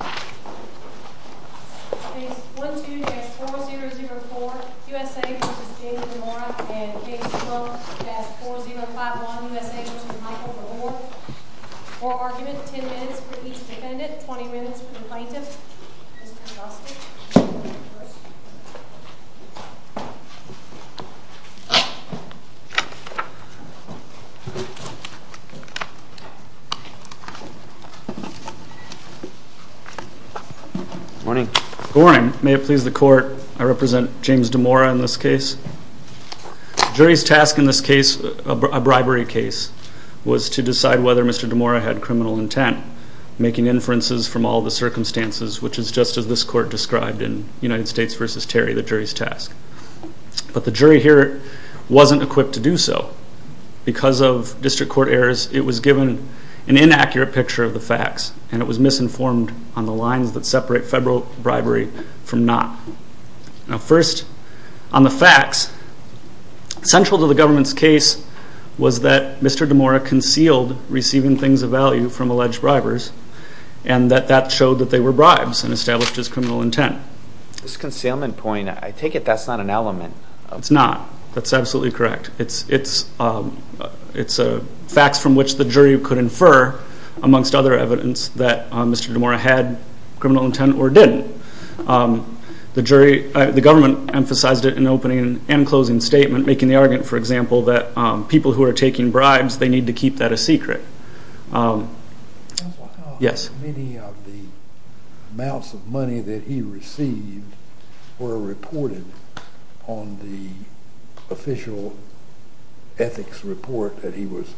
Case 12-4004 U.S.A. v. James DeMora and Case 12-4051 U.S.A. v. Michael Gabor Court argument, 10 minutes for each defendant, 20 minutes for the plaintiff. Mr. Augusto. Good morning. May it please the court, I represent James DeMora in this case. The jury's task in this case, a bribery case, was to decide whether Mr. DeMora had criminal intent, making inferences from all the circumstances, which is just as this court described in United States v. Terry, the jury's task. But the jury here wasn't equipped to do so. Because of district court errors, it was given an inaccurate picture of the facts, and it was misinformed on the lines that separate federal bribery from not. First, on the facts, central to the government's case was that Mr. DeMora concealed receiving things of value from alleged bribers, and that that showed that they were bribes and established his criminal intent. This concealment point, I take it that's not an element. It's not. That's absolutely correct. It's facts from which the jury could infer, amongst other evidence, that Mr. DeMora had criminal intent or didn't. The government emphasized it in opening and closing statement, making the argument, for example, that people who are taking bribes, they need to keep that a secret. Many of the amounts of money that he received were reported on the official ethics report that he was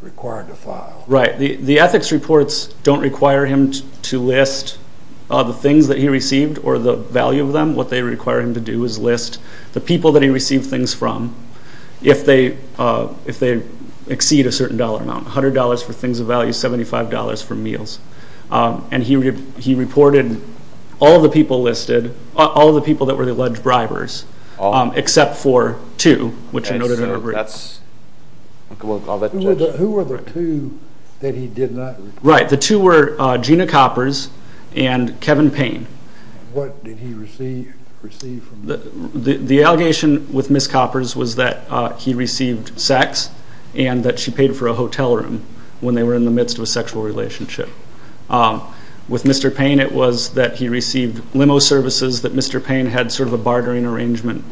required to file. Right. The ethics reports don't require him to list the things that he received or the value of them. What they require him to do is list the people that he received things from. If they exceed a certain dollar amount, $100 for things of value, $75 for meals. And he reported all the people listed, all the people that were alleged bribers, except for two, which are noted in our brief. Who were the two that he did not report? Right. The two were Gina Coppers and Kevin Payne. What did he receive from them? The allegation with Ms. Coppers was that he received sex and that she paid for a hotel room when they were in the midst of a sexual relationship. With Mr. Payne, it was that he received limo services that Mr. Payne had sort of a bartering arrangement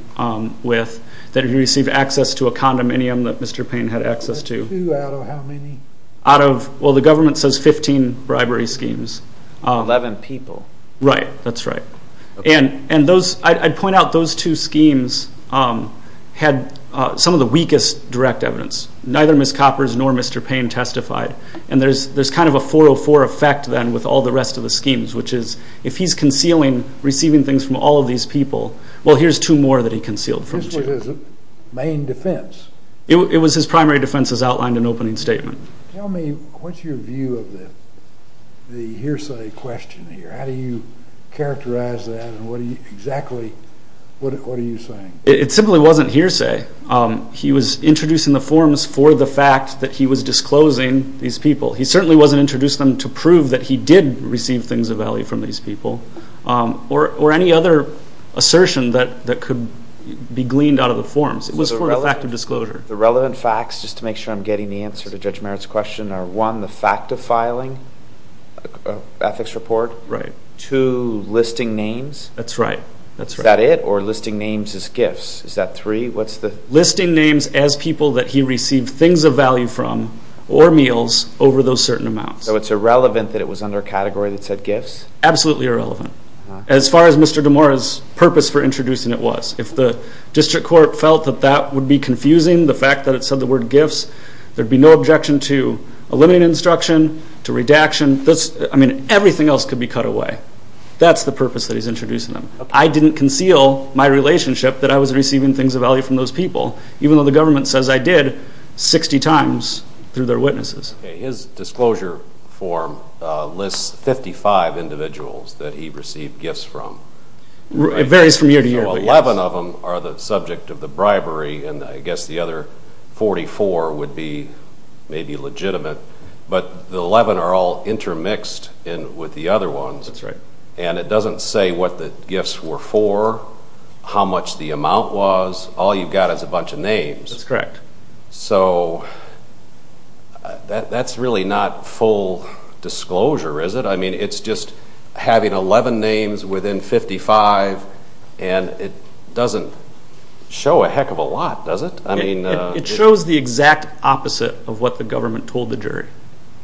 with, that he received access to a condominium that Mr. Payne had access to. The two out of how many? Well, the government says 15 bribery schemes. 11 people. Right. That's right. And I'd point out those two schemes had some of the weakest direct evidence. Neither Ms. Coppers nor Mr. Payne testified. And there's kind of a 404 effect then with all the rest of the schemes, which is if he's concealing receiving things from all of these people, well, here's two more that he concealed from Gina. This was his main defense? It was his primary defense, as outlined in the opening statement. Tell me what's your view of the hearsay question here? How do you characterize that and exactly what are you saying? It simply wasn't hearsay. He was introducing the forms for the fact that he was disclosing these people. He certainly wasn't introducing them to prove that he did receive things of value from these people or any other assertion that could be gleaned out of the forms. It was for the fact of disclosure. The relevant facts, just to make sure I'm getting the answer to Judge Merritt's question, are one, the fact of filing an ethics report, two, listing names. That's right. Is that it, or listing names as gifts? Is that three? Listing names as people that he received things of value from or meals over those certain amounts. So it's irrelevant that it was under a category that said gifts? Absolutely irrelevant, as far as Mr. DeMora's purpose for introducing it was. If the district court felt that that would be confusing, the fact that it said the word gifts, there would be no objection to eliminating instruction, to redaction. I mean, everything else could be cut away. That's the purpose that he's introducing them. I didn't conceal my relationship that I was receiving things of value from those people, even though the government says I did 60 times through their witnesses. His disclosure form lists 55 individuals that he received gifts from. It varies from year to year. Well, 11 of them are the subject of the bribery, and I guess the other 44 would be maybe legitimate. But the 11 are all intermixed with the other ones. That's right. And it doesn't say what the gifts were for, how much the amount was. All you've got is a bunch of names. That's correct. So that's really not full disclosure, is it? I mean, it's just having 11 names within 55, and it doesn't show a heck of a lot, does it? It shows the exact opposite of what the government told the jury,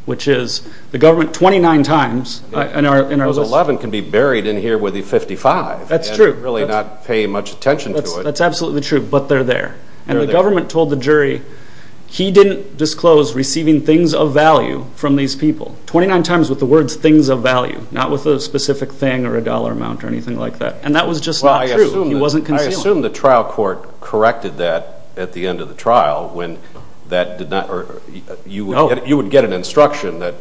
which is the government 29 times. Those 11 can be buried in here with the 55 and really not pay much attention to it. That's absolutely true, but they're there. And the government told the jury he didn't disclose receiving things of value from these people. 29 times with the words things of value, not with a specific thing or a dollar amount or anything like that. And that was just not true. He wasn't concealing. I assume the trial court corrected that at the end of the trial when that did not or you would get an instruction that,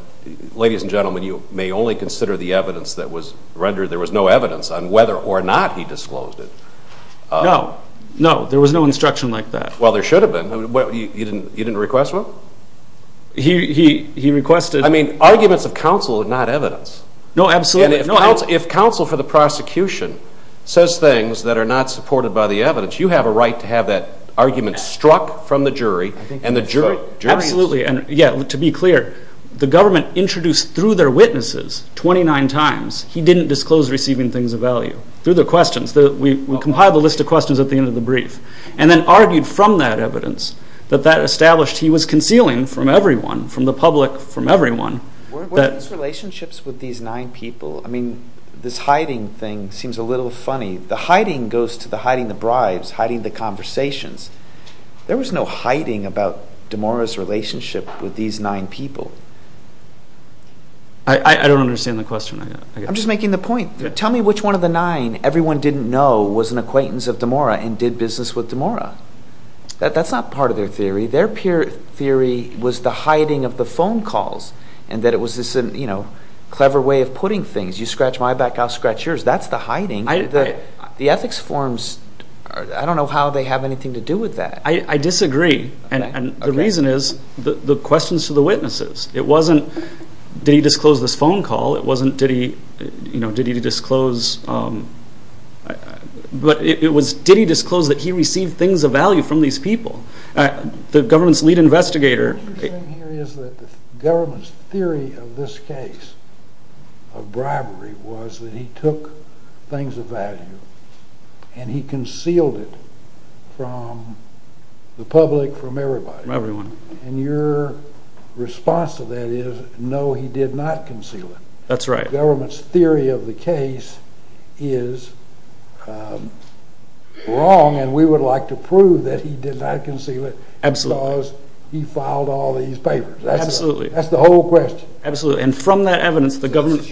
ladies and gentlemen, you may only consider the evidence that was rendered. There was no evidence on whether or not he disclosed it. No. No, there was no instruction like that. Well, there should have been. You didn't request one? He requested. I mean, arguments of counsel are not evidence. No, absolutely. And if counsel for the prosecution says things that are not supported by the evidence, you have a right to have that argument struck from the jury and the jury is. Absolutely. And, yeah, to be clear, the government introduced through their witnesses 29 times he didn't disclose receiving things of value. Through the questions. We compiled a list of questions at the end of the brief. And then argued from that evidence that that established he was concealing from everyone, from the public, from everyone. Were these relationships with these nine people? I mean, this hiding thing seems a little funny. The hiding goes to the hiding the bribes, hiding the conversations. There was no hiding about DeMora's relationship with these nine people. I don't understand the question. I'm just making the point. Tell me which one of the nine everyone didn't know was an acquaintance of DeMora and did business with DeMora. That's not part of their theory. Their theory was the hiding of the phone calls and that it was this clever way of putting things. You scratch my back, I'll scratch yours. That's the hiding. The ethics forms, I don't know how they have anything to do with that. I disagree. And the reason is the questions to the witnesses. It wasn't did he disclose this phone call. It wasn't did he disclose, but it was did he disclose that he received things of value from these people. The government's lead investigator. What you're saying here is that the government's theory of this case of bribery was that he took things of value and he concealed it from the public, from everybody. Everyone. And your response to that is no, he did not conceal it. That's right. The government's theory of the case is wrong and we would like to prove that he did not conceal it. Absolutely. Because he filed all these papers. Absolutely. That's the whole question. Absolutely. And from that evidence, the government. You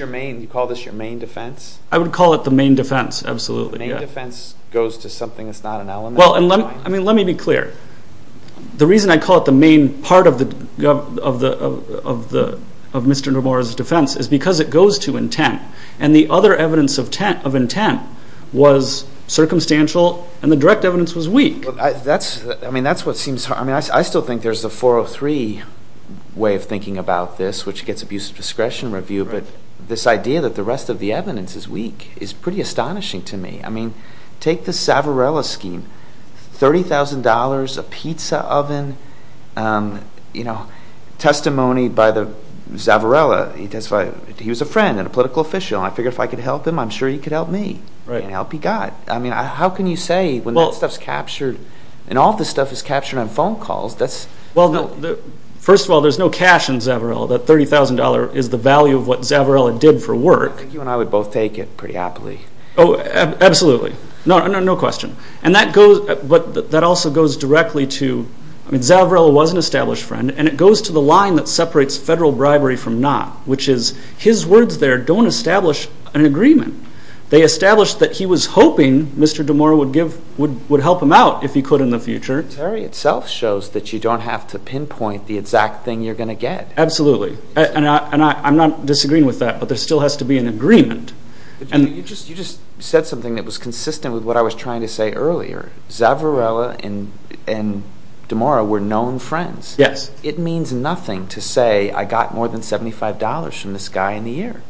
call this your main defense? I would call it the main defense, absolutely. The main defense goes to something that's not an element of crime. Well, let me be clear. The reason I call it the main part of Mr. Nomura's defense is because it goes to intent. And the other evidence of intent was circumstantial and the direct evidence was weak. That's what seems hard. I still think there's a 403 way of thinking about this, which gets abuse of discretion review. But this idea that the rest of the evidence is weak is pretty astonishing to me. I mean, take the Zavarella scheme. $30,000, a pizza oven, testimony by Zavarella. He was a friend and a political official. I figured if I could help him, I'm sure he could help me. And help he got. I mean, how can you say when that stuff's captured and all this stuff is captured on phone calls. Well, first of all, there's no cash in Zavarella. That $30,000 is the value of what Zavarella did for work. I think you and I would both take it pretty happily. Oh, absolutely. No question. But that also goes directly to, I mean, Zavarella was an established friend, and it goes to the line that separates federal bribery from not, which is his words there don't establish an agreement. They establish that he was hoping Mr. DeMora would help him out if he could in the future. The theory itself shows that you don't have to pinpoint the exact thing you're going to get. Absolutely. And I'm not disagreeing with that, but there still has to be an agreement. You just said something that was consistent with what I was trying to say earlier. Zavarella and DeMora were known friends. Yes. It means nothing to say I got more than $75 from this guy in the air.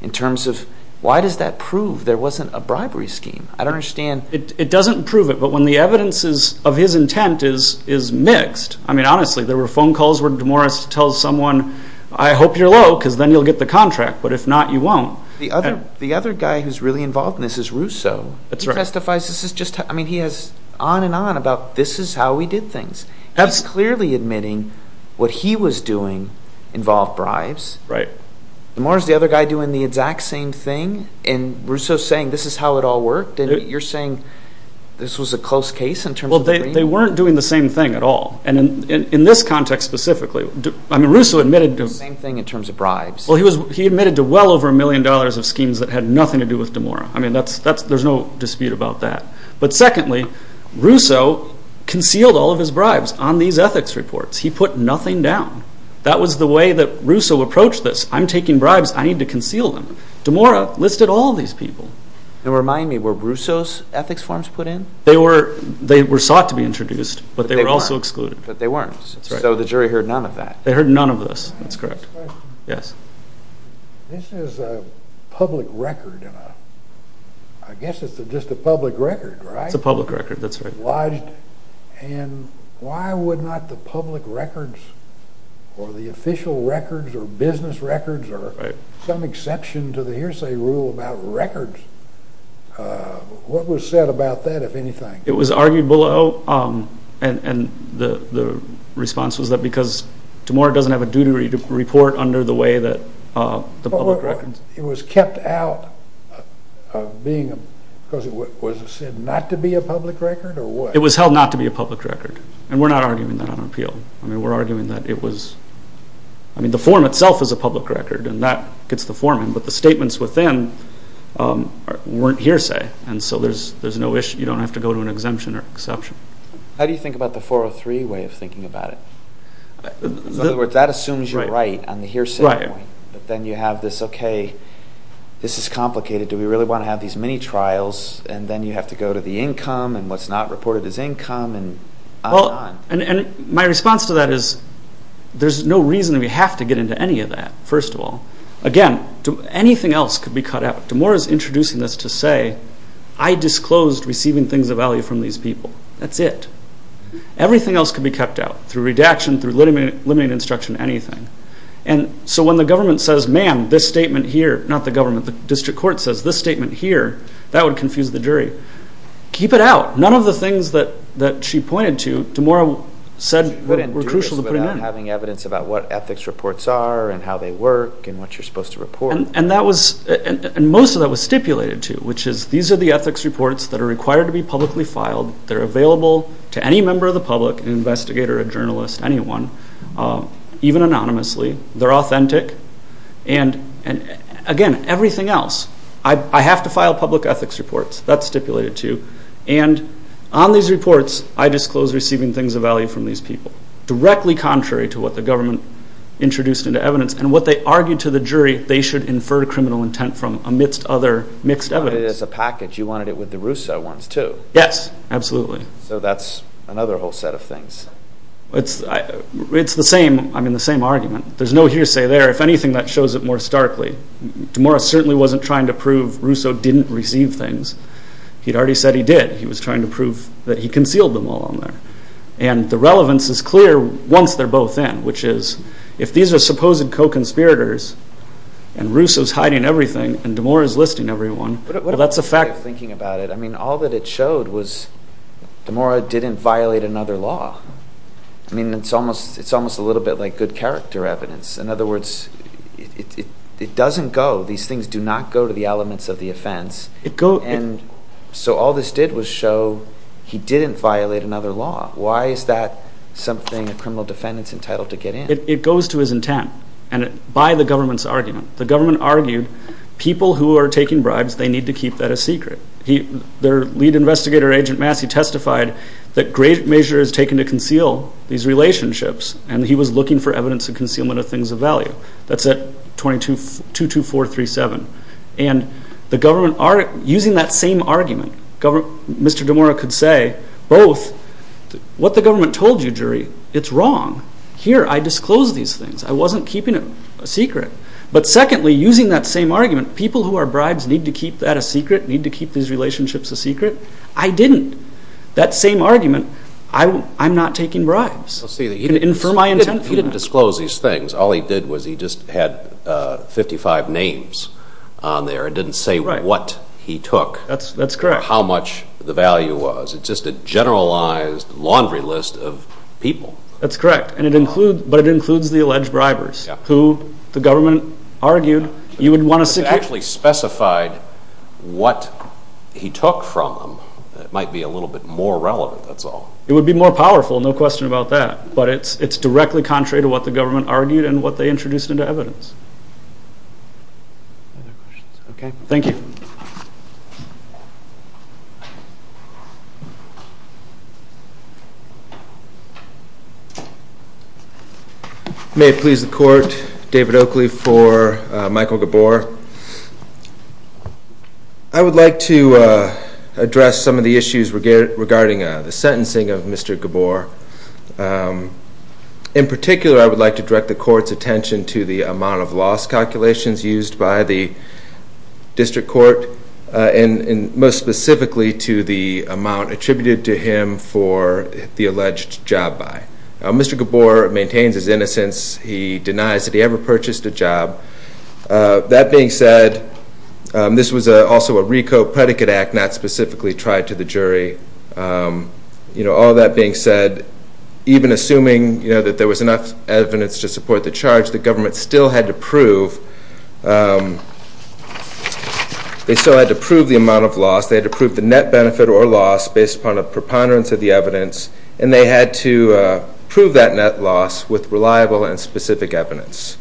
In terms of why does that prove there wasn't a bribery scheme? I don't understand. It doesn't prove it, but when the evidence of his intent is mixed, I mean, honestly, there were phone calls where DeMora tells someone, I hope you're low because then you'll get the contract, but if not, you won't. The other guy who's really involved in this is Rousseau. That's right. He testifies. I mean, he has on and on about this is how we did things. He's clearly admitting what he was doing involved bribes. Right. DeMora's the other guy doing the exact same thing, and Rousseau's saying this is how it all worked, and you're saying this was a close case in terms of the agreement? Well, they weren't doing the same thing at all. And in this context specifically, I mean, Rousseau admitted to— The same thing in terms of bribes. Well, he admitted to well over a million dollars of schemes that had nothing to do with DeMora. I mean, there's no dispute about that. But secondly, Rousseau concealed all of his bribes on these ethics reports. He put nothing down. That was the way that Rousseau approached this. I'm taking bribes. I need to conceal them. DeMora listed all of these people. And remind me, were Rousseau's ethics forms put in? They were sought to be introduced, but they were also excluded. But they weren't. That's right. So the jury heard none of that. They heard none of this. That's correct. I have a question. Yes. This is a public record. I guess it's just a public record, right? It's a public record. That's right. And why would not the public records or the official records or business records or some exception to the hearsay rule about records? What was said about that, if anything? It was argued below. And the response was that because DeMora doesn't have a duty to report under the way that the public records. It was kept out of being a – because was it said not to be a public record or what? It was held not to be a public record. And we're not arguing that on appeal. I mean, we're arguing that it was – I mean, the form itself is a public record, and that gets the form in. But the statements within weren't hearsay. And so there's no issue. You don't have to go to an exemption or exception. How do you think about the 403 way of thinking about it? In other words, that assumes you're right on the hearsay point. But then you have this, okay, this is complicated. Do we really want to have these mini-trials? And then you have to go to the income and what's not reported as income and on and on. And my response to that is there's no reason we have to get into any of that, first of all. Again, anything else could be cut out. DeMora is introducing this to say, I disclosed receiving things of value from these people. That's it. Everything else could be cut out through redaction, through limiting instruction, anything. And so when the government says, man, this statement here – not the government, the district court says, this statement here, that would confuse the jury. Keep it out. None of the things that she pointed to, DeMora said were crucial to putting in. She couldn't do this without having evidence about what ethics reports are and how they work and what you're supposed to report. And most of that was stipulated to, which is these are the ethics reports that are required to be publicly filed. They're available to any member of the public, an investigator, a journalist, anyone, even anonymously. They're authentic. And, again, everything else. I have to file public ethics reports. That's stipulated to. And on these reports, I disclose receiving things of value from these people, directly contrary to what the government introduced into evidence and what they argued to the jury they should infer criminal intent from amidst other mixed evidence. It's a package. You wanted it with the Russo ones, too. Yes. Absolutely. So that's another whole set of things. It's the same argument. There's no hearsay there. If anything, that shows it more starkly. DeMora certainly wasn't trying to prove Russo didn't receive things. He'd already said he did. He was trying to prove that he concealed them all in there. And the relevance is clear once they're both in, which is if these are supposed co-conspirators and Russo's hiding everything and DeMora's listing everyone, that's a fact. What about the way of thinking about it? I mean, all that it showed was DeMora didn't violate another law. I mean, it's almost a little bit like good character evidence. In other words, it doesn't go. These things do not go to the elements of the offense. And so all this did was show he didn't violate another law. Why is that something a criminal defendant's entitled to get in? It goes to his intent and by the government's argument. The government argued people who are taking bribes, they need to keep that a secret. Their lead investigator, Agent Massey, testified that great measure is taken to conceal these relationships, and he was looking for evidence of concealment of things of value. That's at 22437. And the government, using that same argument, Mr. DeMora could say both, what the government told you, jury, it's wrong. Here, I disclosed these things. I wasn't keeping it a secret. But secondly, using that same argument, people who are bribes need to keep that a secret, need to keep these relationships a secret. I didn't. That same argument, I'm not taking bribes. He didn't disclose these things. All he did was he just had 55 names on there and didn't say what he took. That's correct. How much the value was. It's just a generalized laundry list of people. That's correct, but it includes the alleged bribers who the government argued you would want to secure. If it actually specified what he took from them, it might be a little bit more relevant, that's all. It would be more powerful, no question about that. But it's directly contrary to what the government argued and what they introduced into evidence. Any other questions? Okay. Thank you. May it please the Court, David Oakley for Michael Gabor. I would like to address some of the issues regarding the sentencing of Mr. Gabor. In particular, I would like to direct the Court's attention to the amount of loss calculations used by the District Court and most specifically to the amount attributed to him for the alleged job buy. Mr. Gabor maintains his innocence. He denies that he ever purchased a job. That being said, this was also a RICO predicate act not specifically tried to the jury. All that being said, even assuming that there was enough evidence to support the charge, the government still had to prove the amount of loss. They had to prove the net benefit or loss based upon a preponderance of the evidence and they had to prove that net loss with reliable and specific evidence.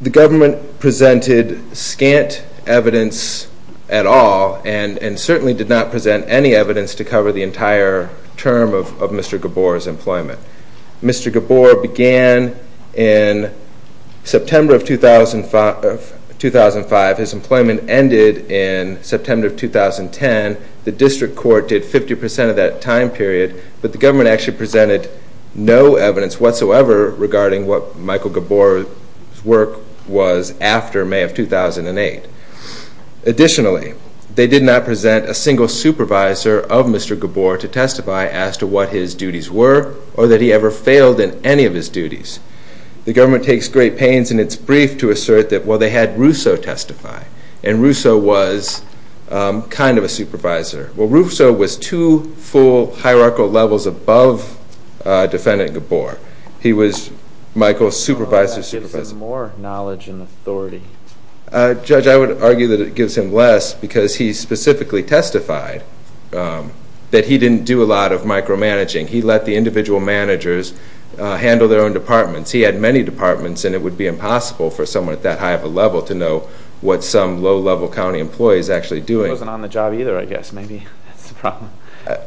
The government presented scant evidence at all and certainly did not present any evidence to cover the entire term of Mr. Gabor's employment. Mr. Gabor began in September of 2005. His employment ended in September of 2010. The District Court did 50% of that time period but the government actually presented no evidence whatsoever regarding what Michael Gabor's work was after May of 2008. Additionally, they did not present a single supervisor of Mr. Gabor to testify as to what his duties were or that he ever failed in any of his duties. The government takes great pains in its brief to assert that, well, they had Rousseau testify and Rousseau was kind of a supervisor. Well, Rousseau was two full hierarchical levels above defendant Gabor. He was Michael's supervisor. That gives him more knowledge and authority. Judge, I would argue that it gives him less because he specifically testified that he didn't do a lot of micromanaging. He let the individual managers handle their own departments. He had many departments and it would be impossible for someone at that high of a level to know what some low-level county employee is actually doing. He wasn't on the job either, I guess. Maybe that's the problem.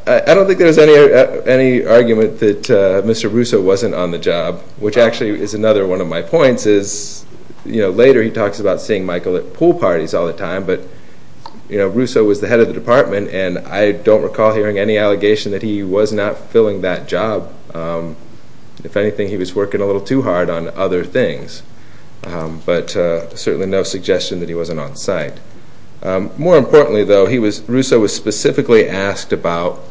I don't think there's any argument that Mr. Rousseau wasn't on the job, which actually is another one of my points, is later he talks about seeing Michael at pool parties all the time, but Rousseau was the head of the department and I don't recall hearing any allegation that he was not filling that job. If anything, he was working a little too hard on other things, but certainly no suggestion that he wasn't on site. More importantly, though, Rousseau was specifically asked about,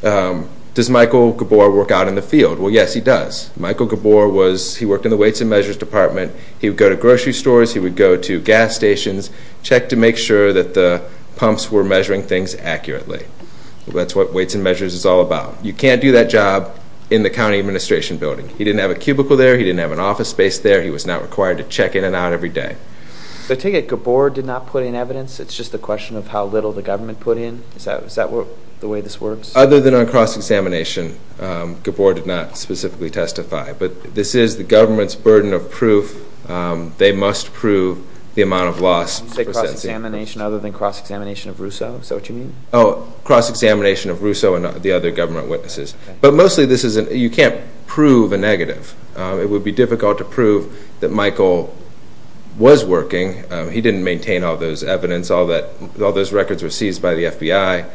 does Michael Gabor work out in the field? Well, yes, he does. Michael Gabor worked in the weights and measures department. He would go to grocery stores, he would go to gas stations, check to make sure that the pumps were measuring things accurately. That's what weights and measures is all about. You can't do that job in the county administration building. He didn't have a cubicle there, he didn't have an office space there, he was not required to check in and out every day. I take it Gabor did not put in evidence, it's just a question of how little the government put in? Is that the way this works? Other than on cross-examination, Gabor did not specifically testify, but this is the government's burden of proof. They must prove the amount of loss. You say cross-examination other than cross-examination of Rousseau? Is that what you mean? Oh, cross-examination of Rousseau and the other government witnesses. But mostly this isn't, you can't prove a negative. It would be difficult to prove that Michael was working. He didn't maintain all those evidence, all those records were seized by the FBI.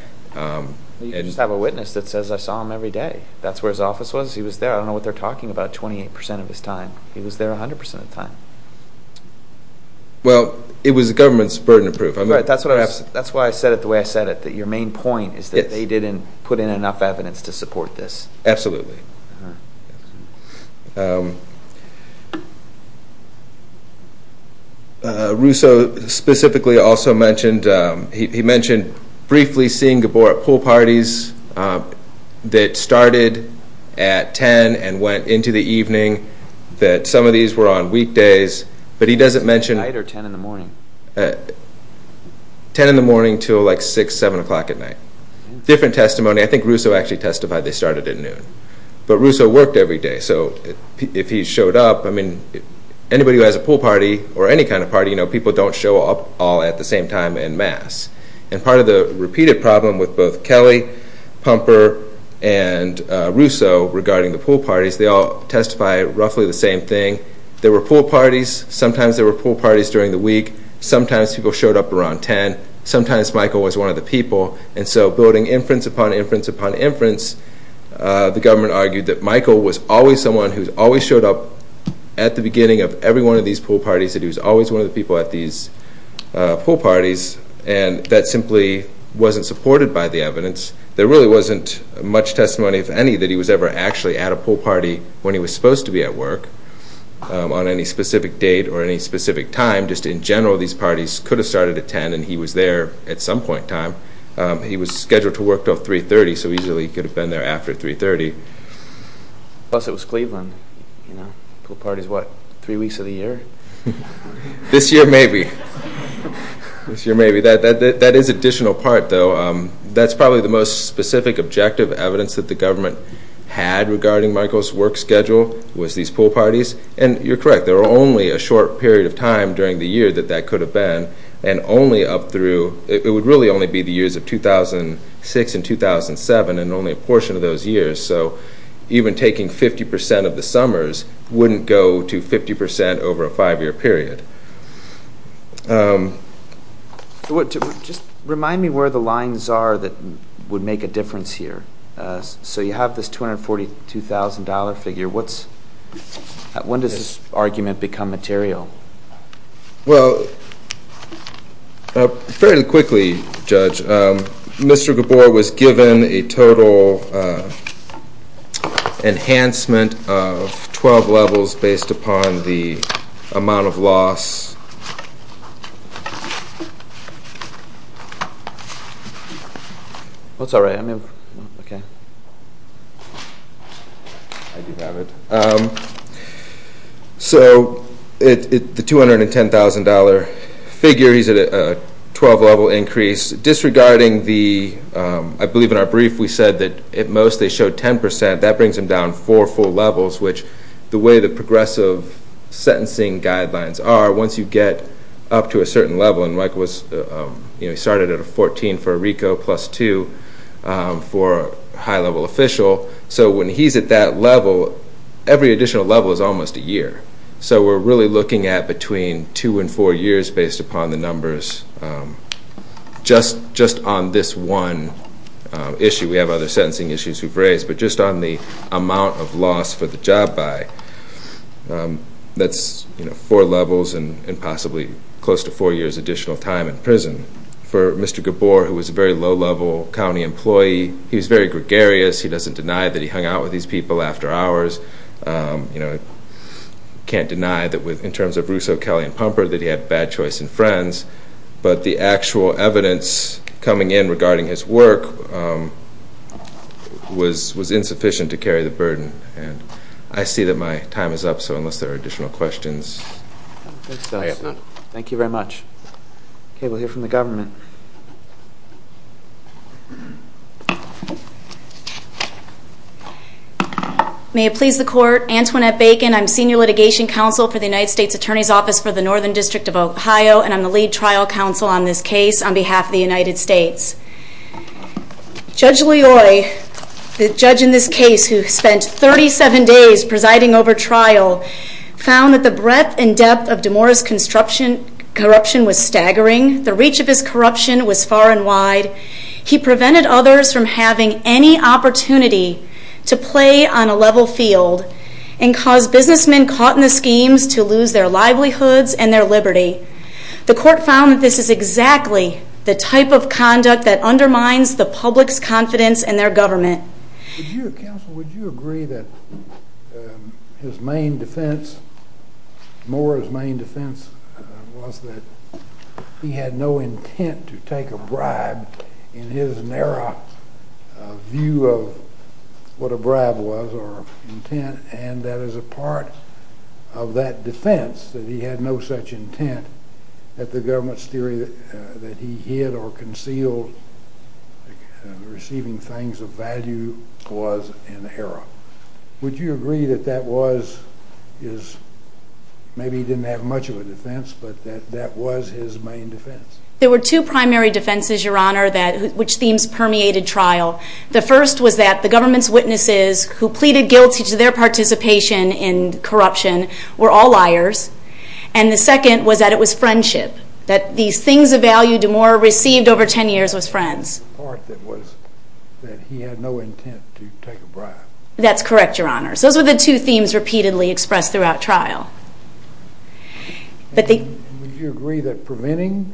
You just have a witness that says, I saw him every day. That's where his office was, he was there. I don't know what they're talking about 28% of his time. He was there 100% of the time. Well, it was the government's burden of proof. That's why I said it the way I said it, that your main point is that they didn't put in enough evidence to support this. Absolutely. Rousseau specifically also mentioned, he mentioned briefly seeing Gabor at pool parties that started at 10 and went into the evening, that some of these were on weekdays. Night or 10 in the morning? 10 in the morning until like 6, 7 o'clock at night. Different testimony. I think Rousseau actually testified they started at noon. But Rousseau worked every day, so if he showed up, I mean, anybody who has a pool party or any kind of party, you know, people don't show up all at the same time en masse. And part of the repeated problem with both Kelly, Pumper, and Rousseau regarding the pool parties, they all testify roughly the same thing. There were pool parties. Sometimes there were pool parties during the week. Sometimes people showed up around 10. Sometimes Michael was one of the people. And so building inference upon inference upon inference, the government argued that Michael was always someone who always showed up at the beginning of every one of these pool parties, that he was always one of the people at these pool parties, and that simply wasn't supported by the evidence. There really wasn't much testimony, if any, that he was ever actually at a pool party when he was supposed to be at work. On any specific date or any specific time, just in general, these parties could have started at 10, and he was there at some point in time. He was scheduled to work until 3.30, so he usually could have been there after 3.30. Plus it was Cleveland, you know. Pool parties, what, three weeks of the year? This year, maybe. This year, maybe. That is an additional part, though. That's probably the most specific objective evidence that the government had regarding Michael's work schedule was these pool parties, and you're correct. There were only a short period of time during the year that that could have been, and only up through, it would really only be the years of 2006 and 2007 and only a portion of those years, so even taking 50% of the summers wouldn't go to 50% over a five-year period. Just remind me where the lines are that would make a difference here. So you have this $242,000 figure. When does this argument become material? Well, fairly quickly, Judge, Mr. Gabor was given a total enhancement of 12 levels based upon the amount of loss. Yes. That's all right. Okay. I do have it. So the $210,000 figure, he's at a 12-level increase. Disregarding the, I believe in our brief we said that at most they showed 10%, that brings him down four full levels, which the way the progressive sentencing guidelines are, once you get up to a certain level, and he started at a 14 for a RICO plus two for a high-level official, so when he's at that level, every additional level is almost a year. So we're really looking at between two and four years based upon the numbers, just on this one issue. We have other sentencing issues we've raised, but just on the amount of loss for the job buy, that's four levels and possibly close to four years additional time in prison. For Mr. Gabor, who was a very low-level county employee, he was very gregarious. He doesn't deny that he hung out with these people after hours. Can't deny that in terms of Russo, Kelly, and Pumper that he had bad choice in friends, but the actual evidence coming in regarding his work was insufficient to carry the burden. I see that my time is up, so unless there are additional questions. Thank you very much. Okay, we'll hear from the government. May it please the Court, Antoinette Bacon, I'm Senior Litigation Counsel for the United States Attorney's Office for the Northern District of Ohio, and I'm the Lead Trial Counsel on this case on behalf of the United States. Judge Loyoy, the judge in this case who spent 37 days presiding over trial, found that the breadth and depth of DeMora's corruption was staggering. The reach of his corruption was far and wide. He prevented others from having any opportunity to play on a level field and caused businessmen caught in the schemes to lose their livelihoods and their liberty. The court found that this is exactly the type of conduct that undermines the public's confidence in their government. Counsel, would you agree that his main defense, DeMora's main defense was that he had no intent to take a bribe in his narrow view of what a bribe was or intent, and that as a part of that defense that he had no such intent that the government's theory that he hid or concealed receiving things of value was an error. Would you agree that that was his, maybe he didn't have much of a defense, but that that was his main defense? There were two primary defenses, Your Honor, which themes permeated trial. The first was that the government's witnesses who pleaded guilty to their participation in corruption were all liars. And the second was that it was friendship, that these things of value DeMora received over 10 years was friends. The part that was that he had no intent to take a bribe. That's correct, Your Honor. Those were the two themes repeatedly expressed throughout trial. Would you agree that preventing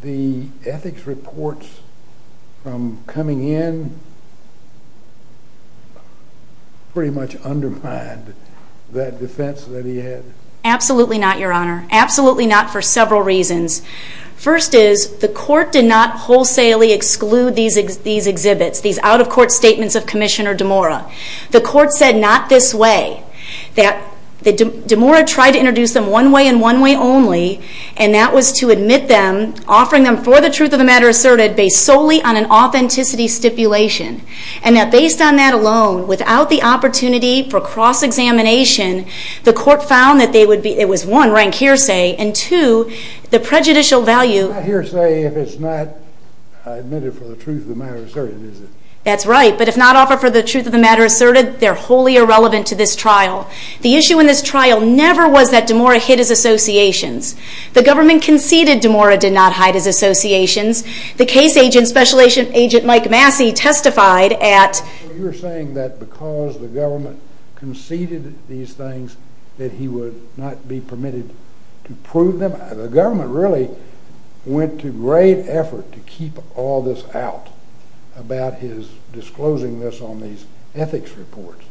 the ethics reports from coming in pretty much undermined that defense that he had? Absolutely not, Your Honor. Absolutely not for several reasons. First is, the court did not wholesalely exclude these exhibits, these out-of-court statements of Commissioner DeMora. The court said not this way, that DeMora tried to introduce them one way and one way only, and that was to admit them, offering them for the truth of the matter asserted, based solely on an authenticity stipulation. And that based on that alone, without the opportunity for cross-examination, the court found that they would be, it was one, rank hearsay, and two, the prejudicial value. It's not hearsay if it's not admitted for the truth of the matter asserted, is it? That's right. But if not offered for the truth of the matter asserted, they're wholly irrelevant to this trial. The issue in this trial never was that DeMora hid his associations. The government conceded DeMora did not hide his associations. The case agent, Special Agent Mike Massey, testified at... You're saying that because the government conceded these things, that he would not be permitted to prove them. The government really went to great effort to keep all this out, about his disclosing this on these ethics reports,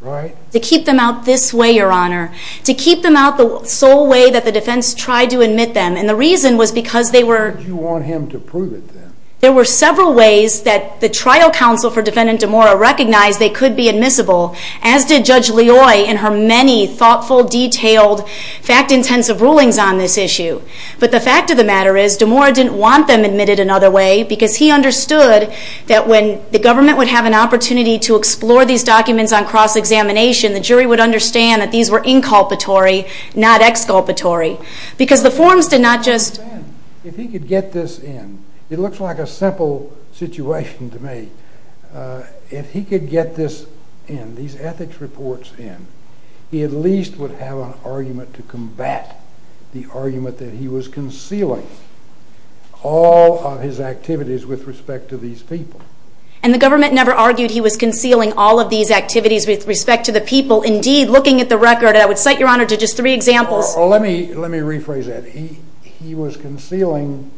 right? To keep them out this way, Your Honor. To keep them out the sole way that the defense tried to admit them, and the reason was because they were... Why did you want him to prove it then? There were several ways that the trial counsel for Defendant DeMora recognized they could be admissible, as did Judge Leoy in her many thoughtful, detailed, fact-intensive rulings on this issue. But the fact of the matter is, DeMora didn't want them admitted another way, because he understood that when the government would have an opportunity to explore these documents on cross-examination, the jury would understand that these were inculpatory, not exculpatory. Because the forms did not just... If he could get this in, it looks like a simple situation to me. If he could get this in, these ethics reports in, he at least would have an argument to combat the argument that he was concealing all of his activities with respect to these people. And the government never argued he was concealing all of these activities with respect to the people. Indeed, looking at the record, I would cite, Your Honor, to just three examples. Let me rephrase that. He was concealing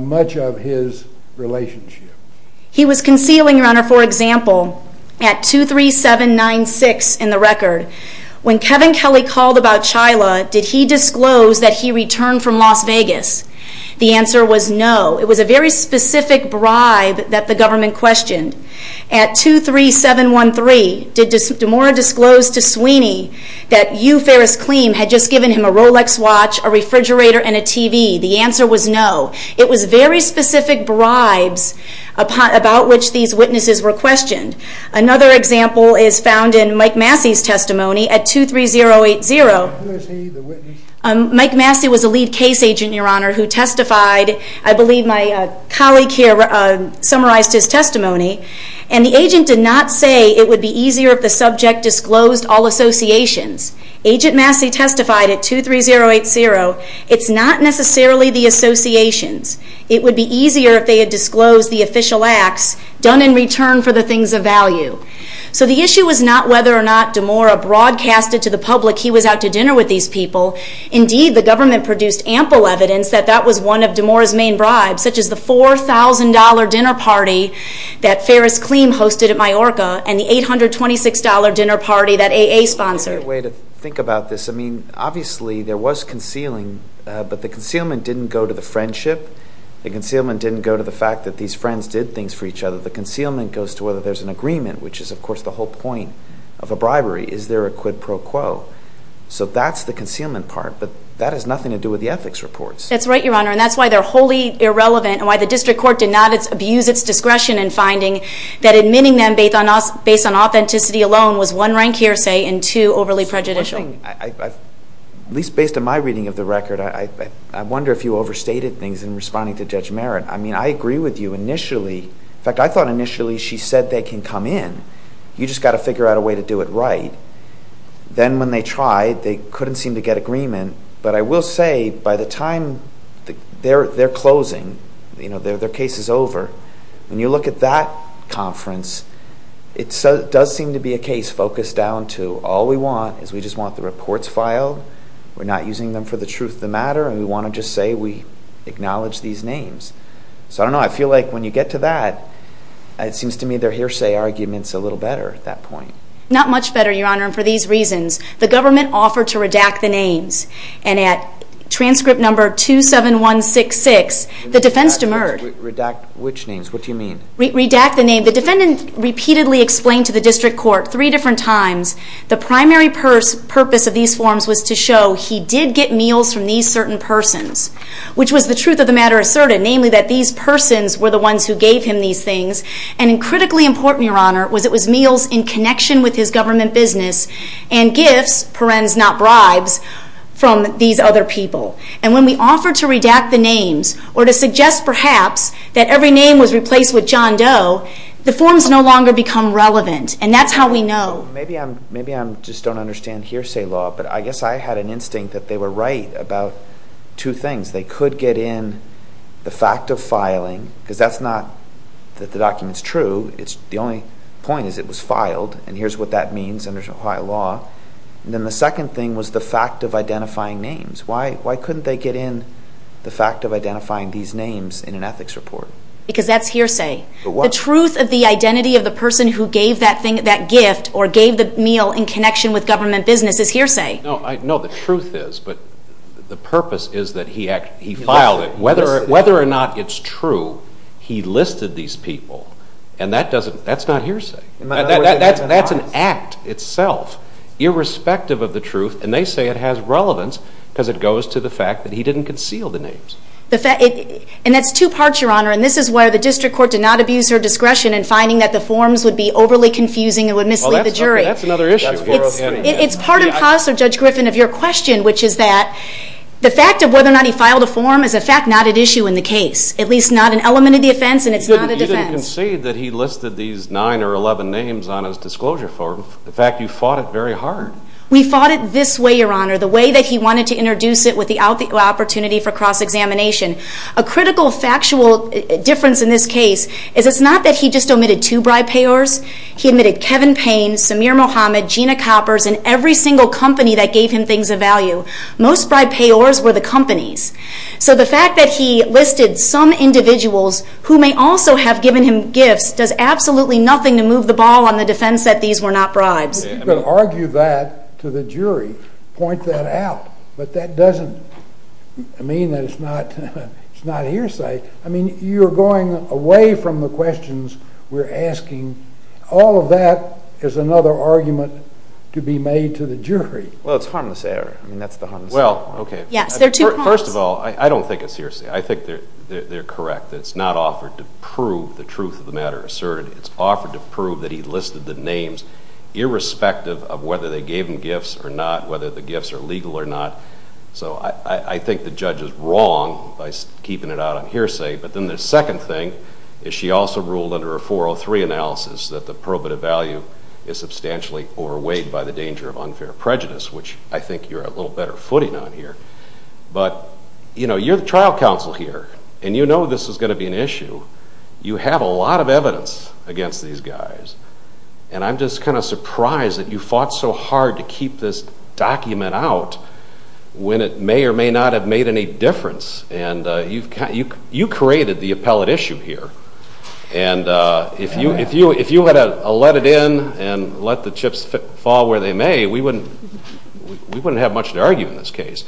much of his relationship. He was concealing, Your Honor, for example, at 23796 in the record, when Kevin Kelly called about Chyla, did he disclose that he returned from Las Vegas? The answer was no. It was a very specific bribe that the government questioned. At 23713, did DeMora disclose to Sweeney that you, Ferris Kleem, had just given him a Rolex watch, a refrigerator, and a TV? The answer was no. It was very specific bribes about which these witnesses were questioned. Another example is found in Mike Massey's testimony at 23080. Mike Massey was a lead case agent, Your Honor, who testified. I believe my colleague here summarized his testimony. And the agent did not say it would be easier if the subject disclosed all associations. Agent Massey testified at 23080. It's not necessarily the associations. It would be easier if they had disclosed the official acts done in return for the things of value. So the issue was not whether or not DeMora broadcasted to the public he was out to dinner with these people. Indeed, the government produced ample evidence that that was one of DeMora's main bribes, such as the $4,000 dinner party that Ferris Kleem hosted at Majorca and the $826 dinner party that AA sponsored. That's a great way to think about this. I mean, obviously there was concealing, but the concealment didn't go to the friendship. The concealment didn't go to the fact that these friends did things for each other. The concealment goes to whether there's an agreement, which is, of course, the whole point of a bribery. Is there a quid pro quo? So that's the concealment part, but that has nothing to do with the ethics reports. That's right, Your Honor, and that's why they're wholly irrelevant and why the district court did not abuse its discretion in finding that admitting them based on authenticity alone was one rank hearsay and too overly prejudicial. One thing, at least based on my reading of the record, I wonder if you overstated things in responding to Judge Merritt. I mean, I agree with you initially. In fact, I thought initially she said they can come in. You just got to figure out a way to do it right. Then when they tried, they couldn't seem to get agreement. But I will say by the time they're closing, their case is over, when you look at that conference, it does seem to be a case focused down to all we want is we just want the reports filed, we're not using them for the truth of the matter, and we want to just say we acknowledge these names. So I don't know, I feel like when you get to that, it seems to me their hearsay argument's a little better at that point. Not much better, Your Honor, and for these reasons, the government offered to redact the names, and at transcript number 27166, the defense demurred. Redact which names? What do you mean? Redact the names. The defendant repeatedly explained to the district court three different times the primary purpose of these forms was to show he did get meals from these certain persons, which was the truth of the matter asserted, namely that these persons were the ones who gave him these things, and critically important, Your Honor, was it was meals in connection with his government business and gifts, parens not bribes, from these other people. And when we offer to redact the names, or to suggest perhaps that every name was replaced with John Doe, the forms no longer become relevant, and that's how we know. Maybe I just don't understand hearsay law, but I guess I had an instinct that they were right about two things. They could get in the fact of filing, because that's not that the document's true. The only point is it was filed, and here's what that means under Ohio law. Then the second thing was the fact of identifying names. Why couldn't they get in the fact of identifying these names in an ethics report? Because that's hearsay. The truth of the identity of the person who gave that gift or gave the meal in connection with government business is hearsay. No, the truth is, but the purpose is that he filed it. Whether or not it's true, he listed these people, and that's not hearsay. That's an act itself, irrespective of the truth, and they say it has relevance because it goes to the fact that he didn't conceal the names. And that's two parts, Your Honor, and this is where the district court did not abuse her discretion in finding that the forms would be overly confusing and would mislead the jury. Well, that's another issue. It's part and parcel, Judge Griffin, of your question, which is that the fact of whether or not he filed a form is a fact not at issue in the case, at least not an element of the offense, and it's not a defense. You didn't concede that he listed these 9 or 11 names on his disclosure form. In fact, you fought it very hard. We fought it this way, Your Honor, the way that he wanted to introduce it with the opportunity for cross-examination. A critical factual difference in this case is it's not that he just omitted two bribe payors. He omitted Kevin Payne, Samir Mohammed, Gina Coppers, and every single company that gave him things of value. Most bribe payors were the companies. So the fact that he listed some individuals who may also have given him gifts You could argue that to the jury, point that out, but that doesn't mean that it's not hearsay. I mean, you're going away from the questions we're asking. All of that is another argument to be made to the jury. Well, it's harmless error. I mean, that's the harmless error. Well, okay. Yes, there are two harms. First of all, I don't think it's hearsay. I think they're correct. It's not offered to prove the truth of the matter asserted. It's offered to prove that he listed the names irrespective of whether they gave him gifts or not, whether the gifts are legal or not. So I think the judge is wrong by keeping it out on hearsay. But then the second thing is she also ruled under a 403 analysis that the probative value is substantially overweighed by the danger of unfair prejudice, which I think you're a little better footing on here. But, you know, you're the trial counsel here, and you know this is going to be an issue. You have a lot of evidence against these guys, and I'm just kind of surprised that you fought so hard to keep this document out when it may or may not have made any difference. And you created the appellate issue here. And if you had let it in and let the chips fall where they may, we wouldn't have much to argue in this case.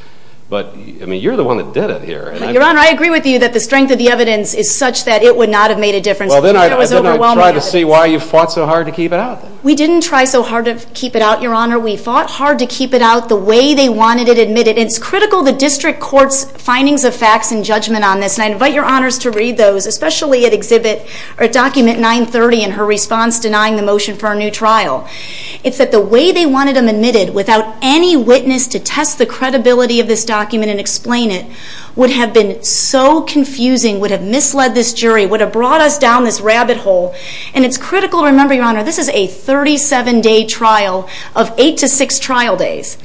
But, I mean, you're the one that did it here. Your Honor, I agree with you that the strength of the evidence is such that it would not have made a difference. Well, then I'd try to see why you fought so hard to keep it out. We didn't try so hard to keep it out, Your Honor. We fought hard to keep it out the way they wanted it admitted. It's critical the district court's findings of facts and judgment on this, and I invite Your Honors to read those, especially at document 930 and her response denying the motion for a new trial. It's that the way they wanted them admitted without any witness to test the credibility of this document and explain it would have been so confusing, would have misled this jury, would have brought us down this rabbit hole. And it's critical to remember, Your Honor, this is a 37-day trial of 8 to 6 trial days,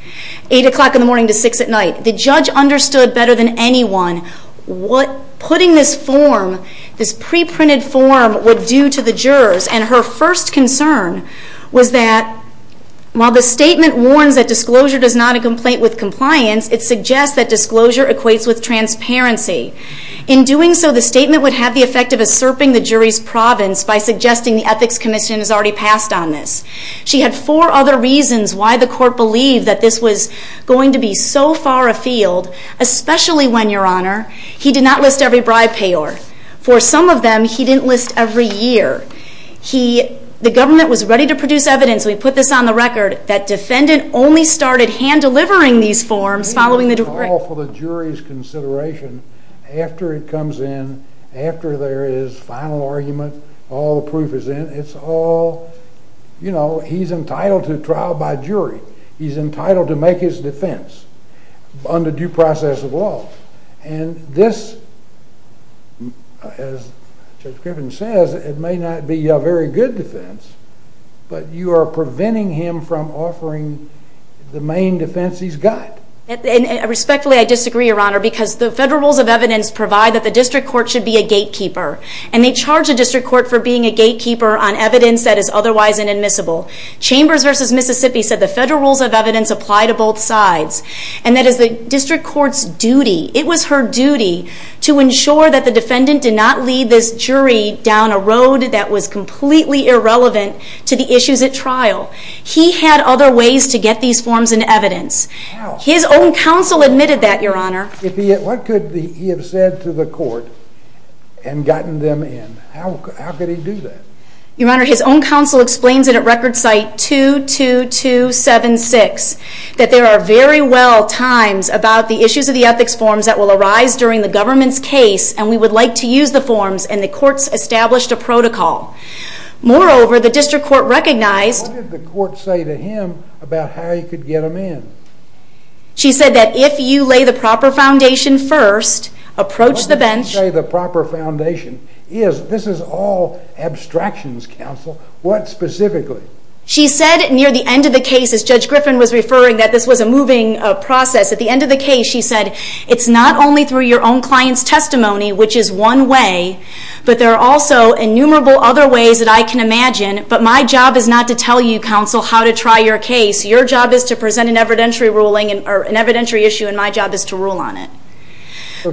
8 o'clock in the morning to 6 at night. The judge understood better than anyone what putting this form, this pre-printed form, would do to the jurors. And her first concern was that while the statement warns that disclosure does not equate with compliance, it suggests that disclosure equates with transparency. In doing so, the statement would have the effect of usurping the jury's province by suggesting the Ethics Commission has already passed on this. She had four other reasons why the court believed that this was going to be so far afield, especially when, Your Honor, he did not list every bribe payor. For some of them, he didn't list every year. The government was ready to produce evidence, and we put this on the record, that defendant only started hand-delivering these forms following the decree. It's all for the jury's consideration. After it comes in, after there is final argument, all the proof is in, it's all, you know, he's entitled to trial by jury. He's entitled to make his defense under due process of law. And this, as Judge Griffin says, it may not be a very good defense, but you are preventing him from offering the main defense he's got. Respectfully, I disagree, Your Honor, because the federal rules of evidence provide that the district court should be a gatekeeper, and they charge a district court for being a gatekeeper on evidence that is otherwise inadmissible. Chambers v. Mississippi said the federal rules of evidence apply to both sides, and that is the district court's duty, it was her duty, to ensure that the defendant did not lead this jury down a road that was completely irrelevant to the issues at trial. He had other ways to get these forms into evidence. His own counsel admitted that, Your Honor. What could he have said to the court and gotten them in? How could he do that? Your Honor, his own counsel explains it at Record Site 22276, that there are very well times about the issues of the ethics forms that will arise during the government's case, and we would like to use the forms, and the courts established a protocol. Moreover, the district court recognized... What did the court say to him about how you could get them in? She said that if you lay the proper foundation first, approach the bench... What did she say the proper foundation is? This is all abstractions, counsel. What specifically? She said near the end of the case, as Judge Griffin was referring, that this was a moving process. At the end of the case, she said, it's not only through your own client's testimony, which is one way, but there are also innumerable other ways that I can imagine, but my job is not to tell you, counsel, how to try your case. Your job is to present an evidentiary ruling, or an evidentiary issue, and my job is to rule on it.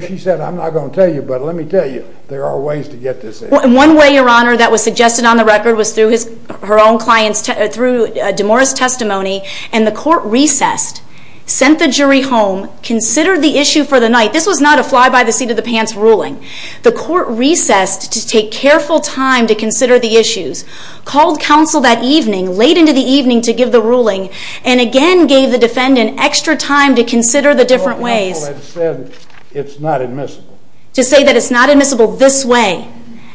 She said, I'm not going to tell you, but let me tell you, there are ways to get this in. One way, Your Honor, that was suggested on the record was through her own client's, through DeMora's testimony, and the court recessed, sent the jury home, considered the issue for the night. This was not a fly-by-the-seat-of-the-pants ruling. The court recessed to take careful time to consider the issues, called counsel that evening, late into the evening, to give the ruling, and again gave the defendant extra time to consider the different ways. The counsel had said it's not admissible. To say that it's not admissible this way,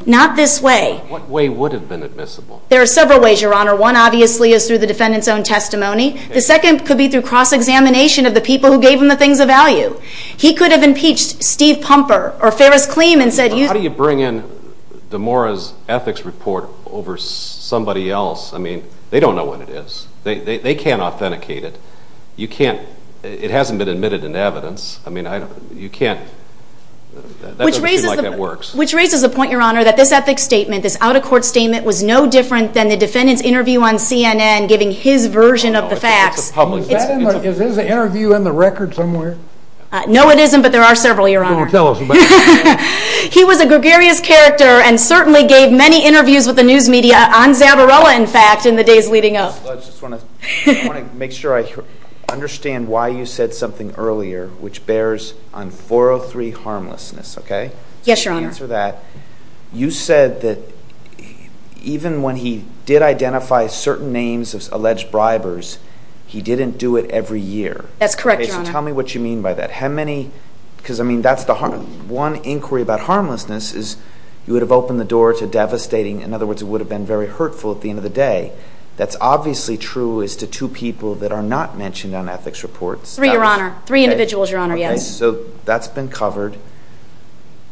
not this way. What way would have been admissible? There are several ways, Your Honor. One, obviously, is through the defendant's own testimony. The second could be through cross-examination of the people who gave him the things of value. He could have impeached Steve Pumper or Ferris Kleem and said, How do you bring in DeMora's ethics report over somebody else? I mean, they don't know what it is. They can't authenticate it. You can't, it hasn't been admitted in evidence. I mean, you can't, that doesn't seem like that works. Which raises the point, Your Honor, that this ethics statement, this out-of-court statement, was no different than the defendant's interview on CNN giving his version of the facts. Is his interview in the record somewhere? No, it isn't, but there are several, Your Honor. Then tell us about it. He was a gregarious character and certainly gave many interviews with the news media on Zabarella, in fact, in the days leading up. I just want to make sure I understand why you said something earlier, which bears on 403 harmlessness, okay? Yes, Your Honor. You said that even when he did identify certain names of alleged bribers, he didn't do it every year. That's correct, Your Honor. Okay, so tell me what you mean by that. How many, because, I mean, that's the one inquiry about harmlessness is you would have opened the door to devastating, in other words, it would have been very hurtful at the end of the day. That's obviously true as to two people that are not mentioned on ethics reports. Three, Your Honor. Three individuals, Your Honor, yes. Okay, so that's been covered.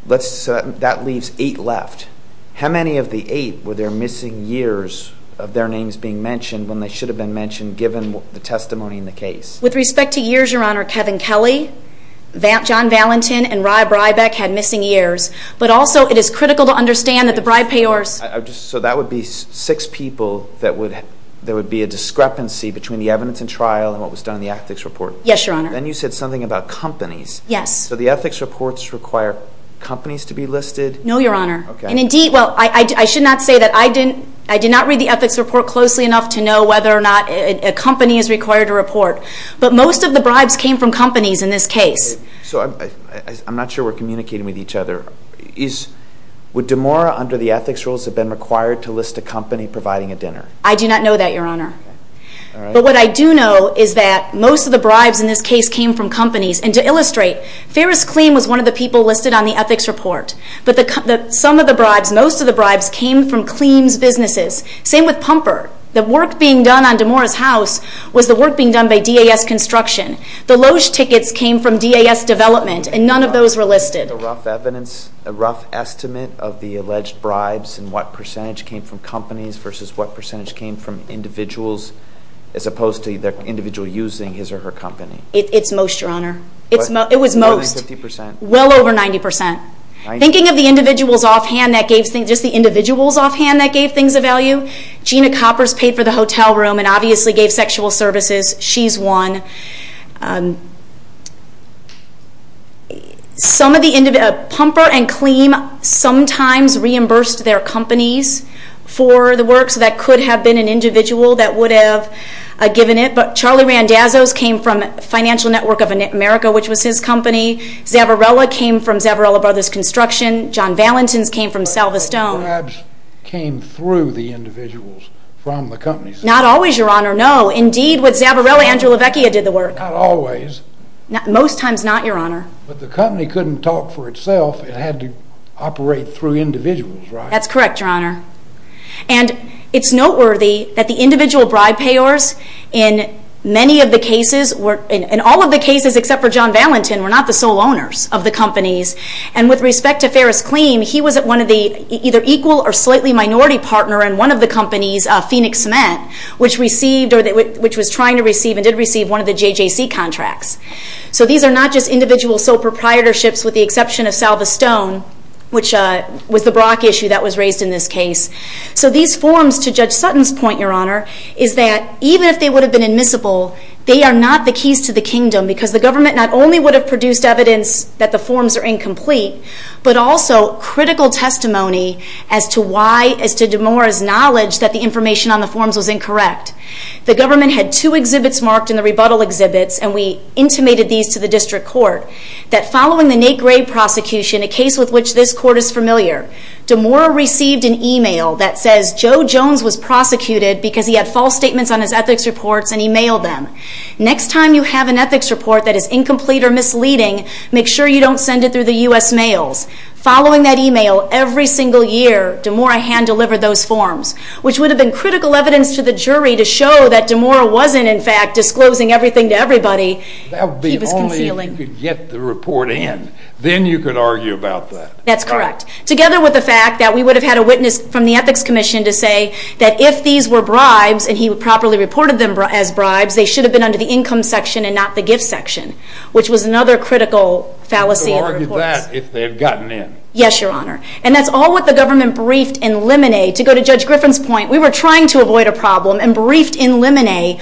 That leaves eight left. How many of the eight were there missing years of their names being mentioned when they should have been mentioned given the testimony in the case? With respect to years, Your Honor, Kevin Kelly, John Valentin, and Rye Breibach had missing years, but also it is critical to understand that the bribe payers. So that would be six people that would be a discrepancy between the evidence and trial and what was done in the ethics report? Yes, Your Honor. Then you said something about companies. Yes. So the ethics reports require companies to be listed? No, Your Honor. And indeed, well, I should not say that I did not read the ethics report closely enough to know whether or not a company is required to report, but most of the bribes came from companies in this case. So I'm not sure we're communicating with each other. Would DeMora, under the ethics rules, have been required to list a company providing a dinner? I do not know that, Your Honor. But what I do know is that most of the bribes in this case came from companies. And to illustrate, Ferris Kleem was one of the people listed on the ethics report. But some of the bribes, most of the bribes, came from Kleem's businesses. Same with Pumper. The work being done on DeMora's house was the work being done by DAS Construction. The loge tickets came from DAS Development, and none of those were listed. A rough estimate of the alleged bribes and what percentage came from companies versus what percentage came from individuals as opposed to the individual using his or her company? It's most, Your Honor. It was most. More than 50 percent. Well over 90 percent. Thinking of the individuals offhand that gave things, just the individuals offhand that gave things a value, Gina Coppers paid for the hotel room and obviously gave sexual services. She's one. Pumper and Kleem sometimes reimbursed their companies for the work, so that could have been an individual that would have given it. Charlie Randazzo's came from Financial Network of America, which was his company. Zavarella came from Zavarella Brothers Construction. John Valentin's came from Salva Stone. The bribes came through the individuals from the companies. Not always, Your Honor, no. Indeed, with Zavarella, Andrew Lavecchia did the work. Not always. Most times not, Your Honor. But the company couldn't talk for itself. It had to operate through individuals, right? That's correct, Your Honor. And it's noteworthy that the individual bribe payers in many of the cases, in all of the cases except for John Valentin, were not the sole owners of the companies. And with respect to Ferris Kleem, he was one of the either equal or slightly minority partner in one of the companies, Phoenix Cement, which was trying to receive and did receive one of the JJC contracts. So these are not just individual sole proprietorships with the exception of Salva Stone, which was the Brock issue that was raised in this case. So these forms, to Judge Sutton's point, Your Honor, is that even if they would have been admissible, they are not the keys to the kingdom because the government not only would have produced evidence that the forms are incomplete, but also critical testimony as to Demora's knowledge that the information on the forms was incorrect. The government had two exhibits marked in the rebuttal exhibits, and we intimated these to the district court, that following the Nate Gray prosecution, a case with which this court is familiar, Demora received an email that says Joe Jones was prosecuted because he had false statements on his ethics reports, and he mailed them. Next time you have an ethics report that is incomplete or misleading, make sure you don't send it through the U.S. mails. Following that email, every single year, Demora hand-delivered those forms, which would have been critical evidence to the jury to show that Demora wasn't, in fact, disclosing everything to everybody. That would be only if you could get the report in. Then you could argue about that. That's correct. Together with the fact that we would have had a witness from the Ethics Commission to say that if these were bribes, and he properly reported them as bribes, they should have been under the income section and not the gift section, which was another critical fallacy in the reports. So argue that if they had gotten in. Yes, Your Honor. And that's all what the government briefed in limine. To go to Judge Griffin's point, we were trying to avoid a problem, and briefed in limine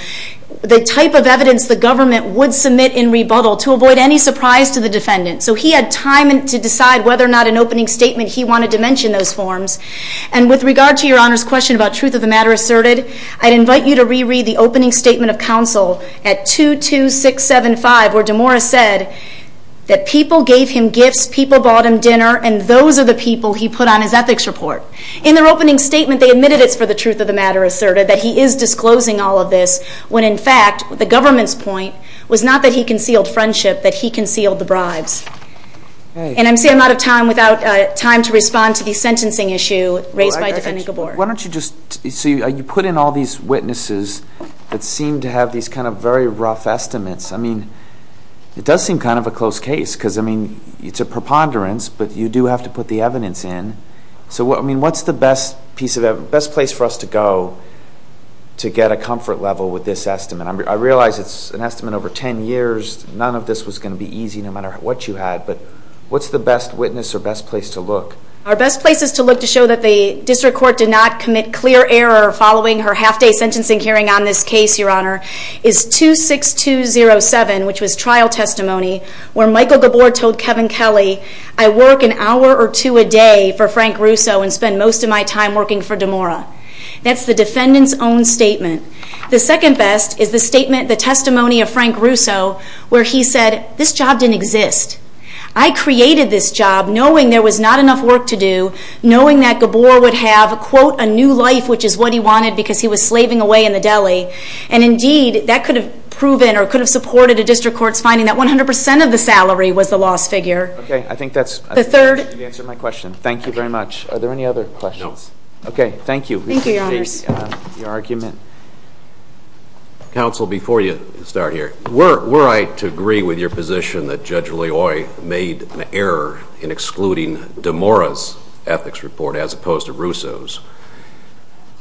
the type of evidence the government would submit in rebuttal to avoid any surprise to the defendant. So he had time to decide whether or not an opening statement he wanted to mention those forms. And with regard to Your Honor's question about Truth of the Matter Asserted, I'd invite you to reread the opening statement of counsel at 22675, where Demora said that people gave him gifts, people bought him dinner, and those are the people he put on his ethics report. In their opening statement, they admitted it's for the Truth of the Matter Asserted, that he is disclosing all of this, when, in fact, the government's point was not that he concealed friendship, that he concealed the bribes. And I'm saying I'm out of time without time to respond to the sentencing issue raised by Defendant Gabor. Why don't you just... So you put in all these witnesses that seem to have these kind of very rough estimates. I mean, it does seem kind of a close case, because, I mean, it's a preponderance, but you do have to put the evidence in. So, I mean, what's the best piece of evidence, best place for us to go to get a comfort level with this estimate? I realize it's an estimate over 10 years. None of this was going to be easy, no matter what you had. But what's the best witness or best place to look? Our best place is to look to show that the District Court did not commit clear error following her half-day sentencing hearing on this case, Your Honor, is 26207, which was trial testimony, where Michael Gabor told Kevin Kelly, I work an hour or two a day for Frank Russo and spend most of my time working for DeMora. That's the defendant's own statement. The second best is the statement, the testimony of Frank Russo, where he said, this job didn't exist. I created this job knowing there was not enough work to do, knowing that Gabor would have, quote, a new life, which is what he wanted, because he was slaving away in the deli. And, indeed, that could have proven or could have supported a District Court's finding that 100% of the salary was the lost figure. Okay, I think that's the answer to my question. Are there any other questions? No. Okay, thank you. Thank you, Your Honors. I appreciate the argument. Counsel, before you start here, were I to agree with your position that Judge Loyoy made an error in excluding DeMora's ethics report as opposed to Russo's,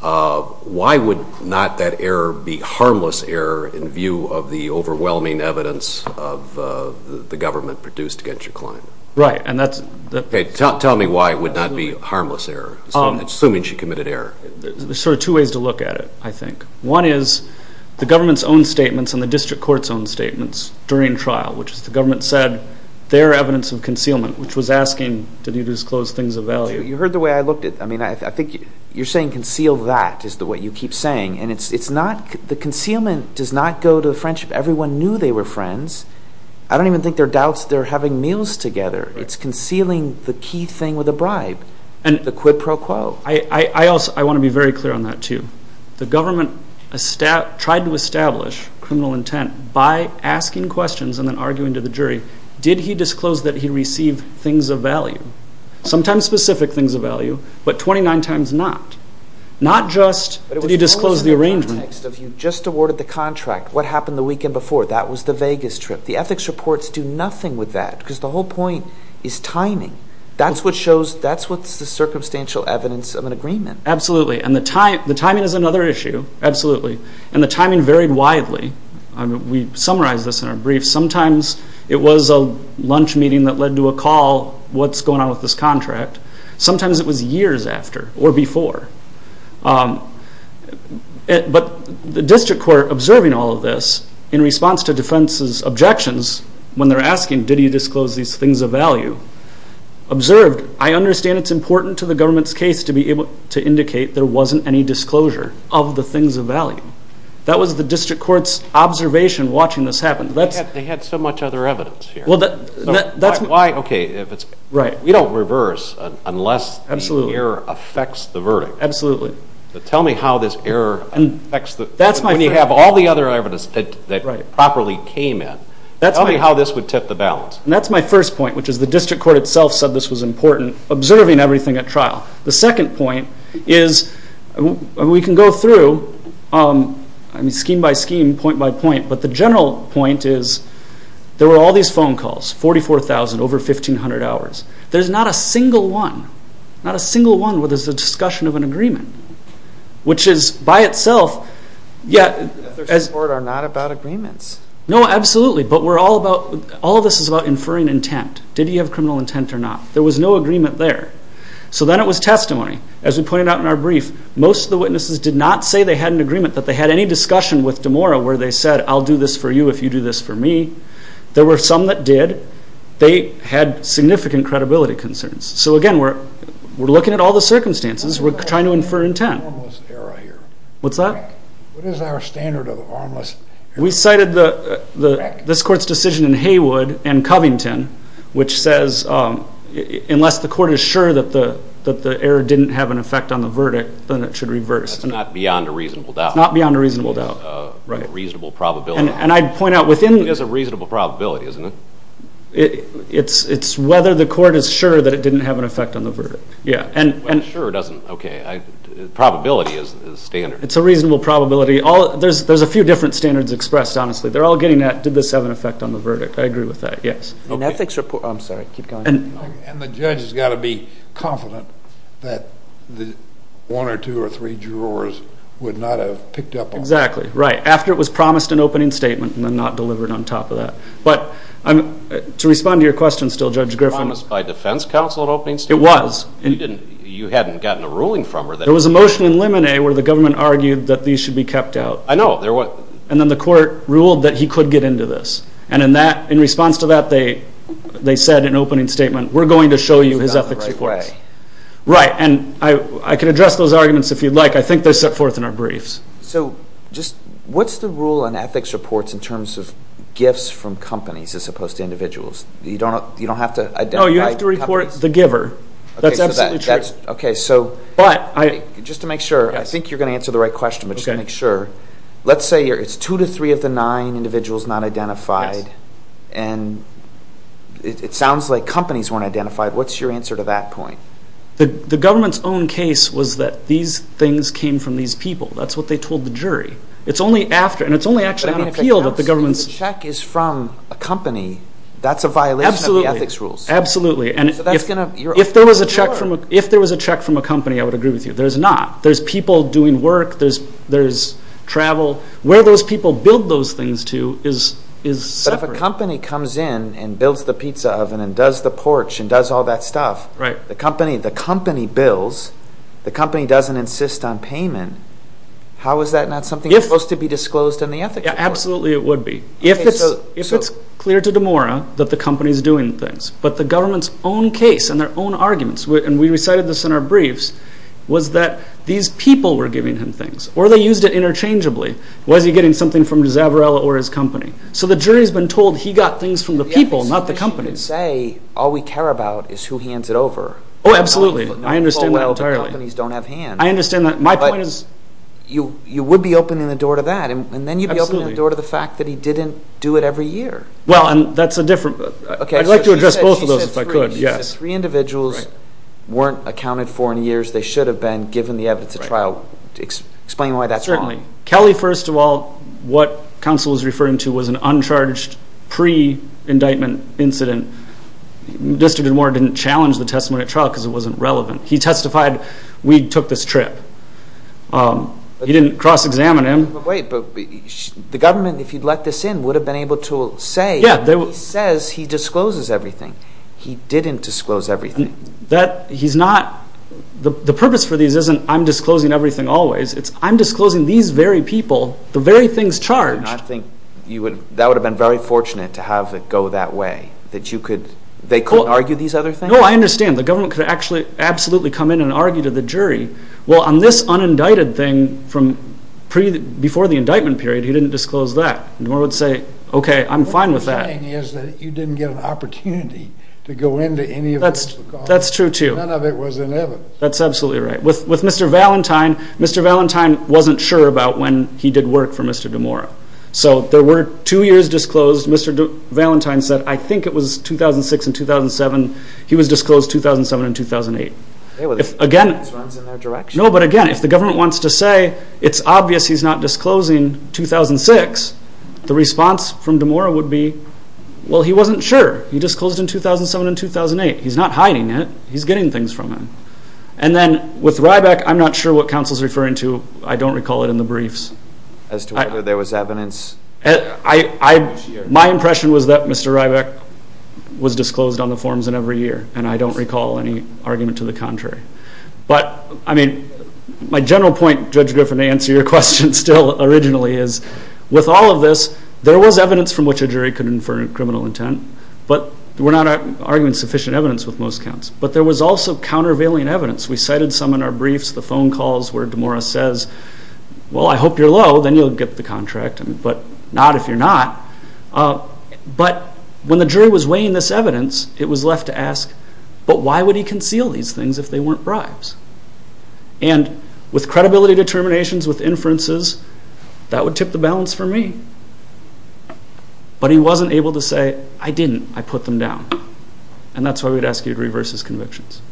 why would not that error be harmless error in view of the overwhelming evidence of the government produced against your client? Right, and that's... Okay, tell me why it would not be harmless error, assuming she committed error. There's sort of two ways to look at it, I think. One is the government's own statements and the District Court's own statements during trial, which is the government said there are evidence of concealment, which was asking, did you disclose things of value? You heard the way I looked at it. I mean, I think you're saying conceal that is the way you keep saying. And it's not... The concealment does not go to the friendship. Everyone knew they were friends. I don't even think there are doubts they're having meals together. It's concealing the key thing with a bribe, the quid pro quo. I want to be very clear on that, too. The government tried to establish criminal intent by asking questions and then arguing to the jury, did he disclose that he received things of value? Sometimes specific things of value, but 29 times not. Not just did he disclose the arrangement. But it was almost in the context of you just awarded the contract. What happened the weekend before? That was the Vegas trip. The ethics reports do nothing with that because the whole point is timing. That's what shows, that's what's the circumstantial evidence of an agreement. Absolutely. And the timing is another issue. Absolutely. And the timing varied widely. We summarized this in our brief. Sometimes it was a lunch meeting that led to a call, what's going on with this contract? Sometimes it was years after or before. But the district court observing all of this in response to defense's objections when they're asking, did he disclose these things of value? Observed, I understand it's important to the government's case to be able to indicate there wasn't any disclosure of the things of value. That was the district court's observation watching this happen. They had so much other evidence here. Well, that's... Why, okay, if it's... Right. We don't reverse unless the error affects the verdict. Absolutely. So tell me how this error affects the... That's my first point. When you have all the other evidence that properly came in, tell me how this would tip the balance. And that's my first point, which is the district court itself said this was important, observing everything at trial. The second point is we can go through, I mean, scheme by scheme, point by point, but the general point is there were all these phone calls, 44,000 over 1,500 hours. There's not a single one, not a single one where there's a discussion of an agreement, which is by itself... The district court are not about agreements. No, absolutely, but we're all about... We're all about inferring intent. Did he have criminal intent or not? There was no agreement there. So then it was testimony. As we pointed out in our brief, most of the witnesses did not say they had an agreement, that they had any discussion with DeMora where they said, I'll do this for you if you do this for me. There were some that did. They had significant credibility concerns. So, again, we're looking at all the circumstances. We're trying to infer intent. What is our standard of harmless error here? What's that? What is our standard of harmless error? We cited this court's decision in Haywood and Covington, which says unless the court is sure that the error didn't have an effect on the verdict, then it should reverse. That's not beyond a reasonable doubt. It's not beyond a reasonable doubt. It's a reasonable probability. And I'd point out within... It is a reasonable probability, isn't it? It's whether the court is sure that it didn't have an effect on the verdict. Well, sure doesn't... Okay, probability is standard. It's a reasonable probability. There's a few different standards expressed, honestly. They're all getting at, did this have an effect on the verdict? I agree with that, yes. An ethics report... I'm sorry. Keep going. And the judge has got to be confident that one or two or three jurors would not have picked up on that. Exactly, right. After it was promised an opening statement and then not delivered on top of that. But to respond to your question still, Judge Griffin... It was promised by defense counsel an opening statement? It was. You hadn't gotten a ruling from her that... There was a motion in Lemonet where the government argued that these should be kept out. I know. And then the court ruled that he could get into this. And in response to that, they said in an opening statement, we're going to show you his ethics reports. Right, and I can address those arguments if you'd like. I think they're set forth in our briefs. So what's the rule on ethics reports in terms of gifts from companies as opposed to individuals? You don't have to identify companies? No, you have to report the giver. That's absolutely true. Okay, so just to make sure... I think you're going to answer the right question, but just to make sure. Let's say it's 2 to 3 of the 9 individuals not identified. And it sounds like companies weren't identified. What's your answer to that point? The government's own case was that these things came from these people. That's what they told the jury. It's only after, and it's only actually on appeal, that the government's... But if a check is from a company, that's a violation of the ethics rules. Absolutely. So that's going to... If there was a check from a company, I would agree with you. There's not. There's people doing work. There's travel. Where those people build those things to is separate. But if a company comes in and builds the pizza oven and does the porch and does all that stuff, the company bills, the company doesn't insist on payment, how is that not something that's supposed to be disclosed in the ethics report? Absolutely, it would be. If it's clear to DeMora that the company's doing things, but the government's own case and their own arguments, and we recited this in our briefs, was that these people were giving him things, or they used it interchangeably. Was he getting something from Zavarello or his company? So the jury's been told he got things from the people, not the company. Yeah, but so far as you can say, all we care about is who hands it over. Oh, absolutely. I understand that entirely. Companies don't have hands. I understand that. My point is... But you would be opening the door to that, and then you'd be opening the door to the fact that he didn't do it every year. Well, and that's a different... I'd like to address both of those if I could, yes. If three individuals weren't accounted for in years, they should have been given the evidence at trial. Explain why that's wrong. Certainly. Kelly, first of all, what counsel is referring to was an uncharged pre-indictment incident. Mr. DeMora didn't challenge the testimony at trial because it wasn't relevant. He testified, we took this trip. He didn't cross-examine him. But wait, the government, if you'd let this in, would have been able to say, he says he discloses everything. He didn't disclose everything. That, he's not... The purpose for these isn't, I'm disclosing everything always. It's, I'm disclosing these very people, the very things charged. I think that would have been very fortunate to have it go that way. That you could... They couldn't argue these other things? No, I understand. The government could actually absolutely come in and argue to the jury. Well, on this unindicted thing, from before the indictment period, he didn't disclose that. DeMora would say, okay, I'm fine with that. What I'm saying is that you didn't get an opportunity to go into any of this. That's true, too. None of it was in evidence. That's absolutely right. With Mr. Valentine, Mr. Valentine wasn't sure about when he did work for Mr. DeMora. So, there were two years disclosed. Mr. Valentine said, I think it was 2006 and 2007. He was disclosed 2007 and 2008. Again... It runs in their direction. No, but again, if the government wants to say, it's obvious he's not disclosing 2006, the response from DeMora would be, well, he wasn't sure. He disclosed in 2007 and 2008. He's not hiding it. He's getting things from him. And then, with Ryback, I'm not sure what counsel's referring to. I don't recall it in the briefs. As to whether there was evidence... My impression was that Mr. Ryback was disclosed on the forms in every year, and I don't recall any argument to the contrary. But, I mean, my general point, Judge Griffin, to answer your question still, originally, is with all of this, there was evidence from which a jury could infer criminal intent. But we're not arguing sufficient evidence with most counts. But there was also countervailing evidence. We cited some in our briefs, the phone calls where DeMora says, well, I hope you're low. Then you'll get the contract. But not if you're not. But when the jury was weighing this evidence, it was left to ask, but why would he conceal these things if they weren't bribes? And with credibility determinations, with inferences, that would tip the balance for me. But he wasn't able to say, I didn't, I put them down. And that's why we'd ask you to reverse his convictions.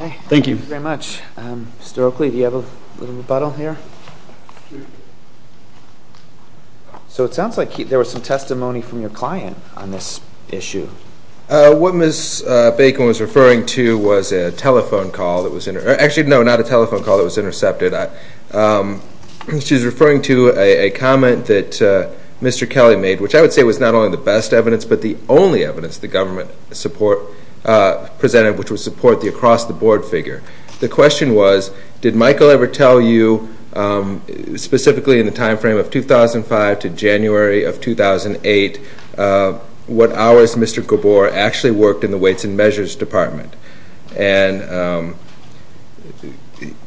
Thank you. Thank you very much. Mr. Oakley, do you have a little rebuttal here? So it sounds like there was some testimony from your client on this issue. What Ms. Bacon was referring to was a telephone call that was intercepted. Actually, no, not a telephone call that was intercepted. She was referring to a comment that Mr. Kelly made, which I would say was not only the best evidence, but the only evidence the government presented, which was support the across-the-board figure. The question was, did Michael ever tell you, specifically in the time frame of 2005 to January of 2008, what hours Mr. Gabor actually worked in the Weights and Measures Department? And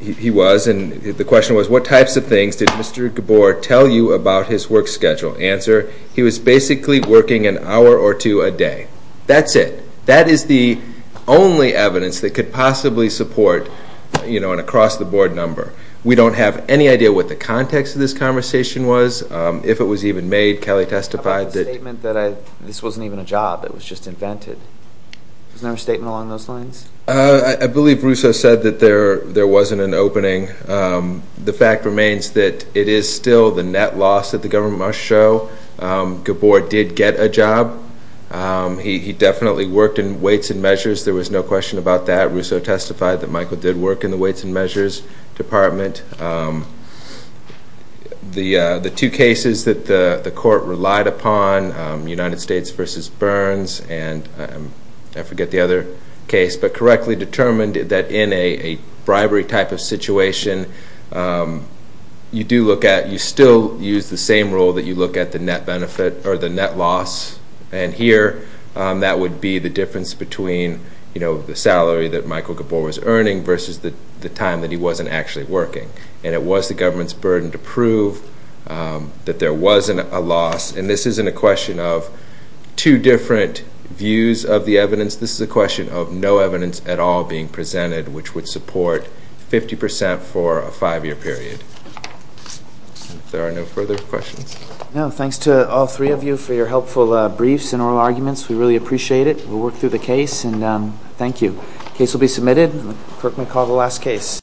he was, and the question was, what types of things did Mr. Gabor tell you about his work schedule? Answer, he was basically working an hour or two a day. That's it. That is the only evidence that could possibly support an across-the-board number. We don't have any idea what the context of this conversation was. If it was even made, Kelly testified that... About the statement that this wasn't even a job, it was just invented. Was there a statement along those lines? I believe Russo said that there wasn't an opening. The fact remains that it is still the net loss that the government must show. Gabor did get a job. He definitely worked in Weights and Measures. There was no question about that. Russo testified that Michael did work in the Weights and Measures Department. The two cases that the court relied upon, United States v. Burns, and I forget the other case, but correctly determined that in a bribery type of situation, you do look at, you still use the same rule that you look at the net benefit or the net loss. And here, that would be the difference between the salary that Michael Gabor was earning versus the time that he wasn't actually working. And it was the government's burden to prove that there wasn't a loss. And this isn't a question of two different views of the evidence. This is a question of no evidence at all being presented, which would support 50% for a five-year period. If there are no further questions. No, thanks to all three of you for your helpful briefs and oral arguments. We really appreciate it. We'll work through the case, and thank you. Case will be submitted. The clerk may call the last case.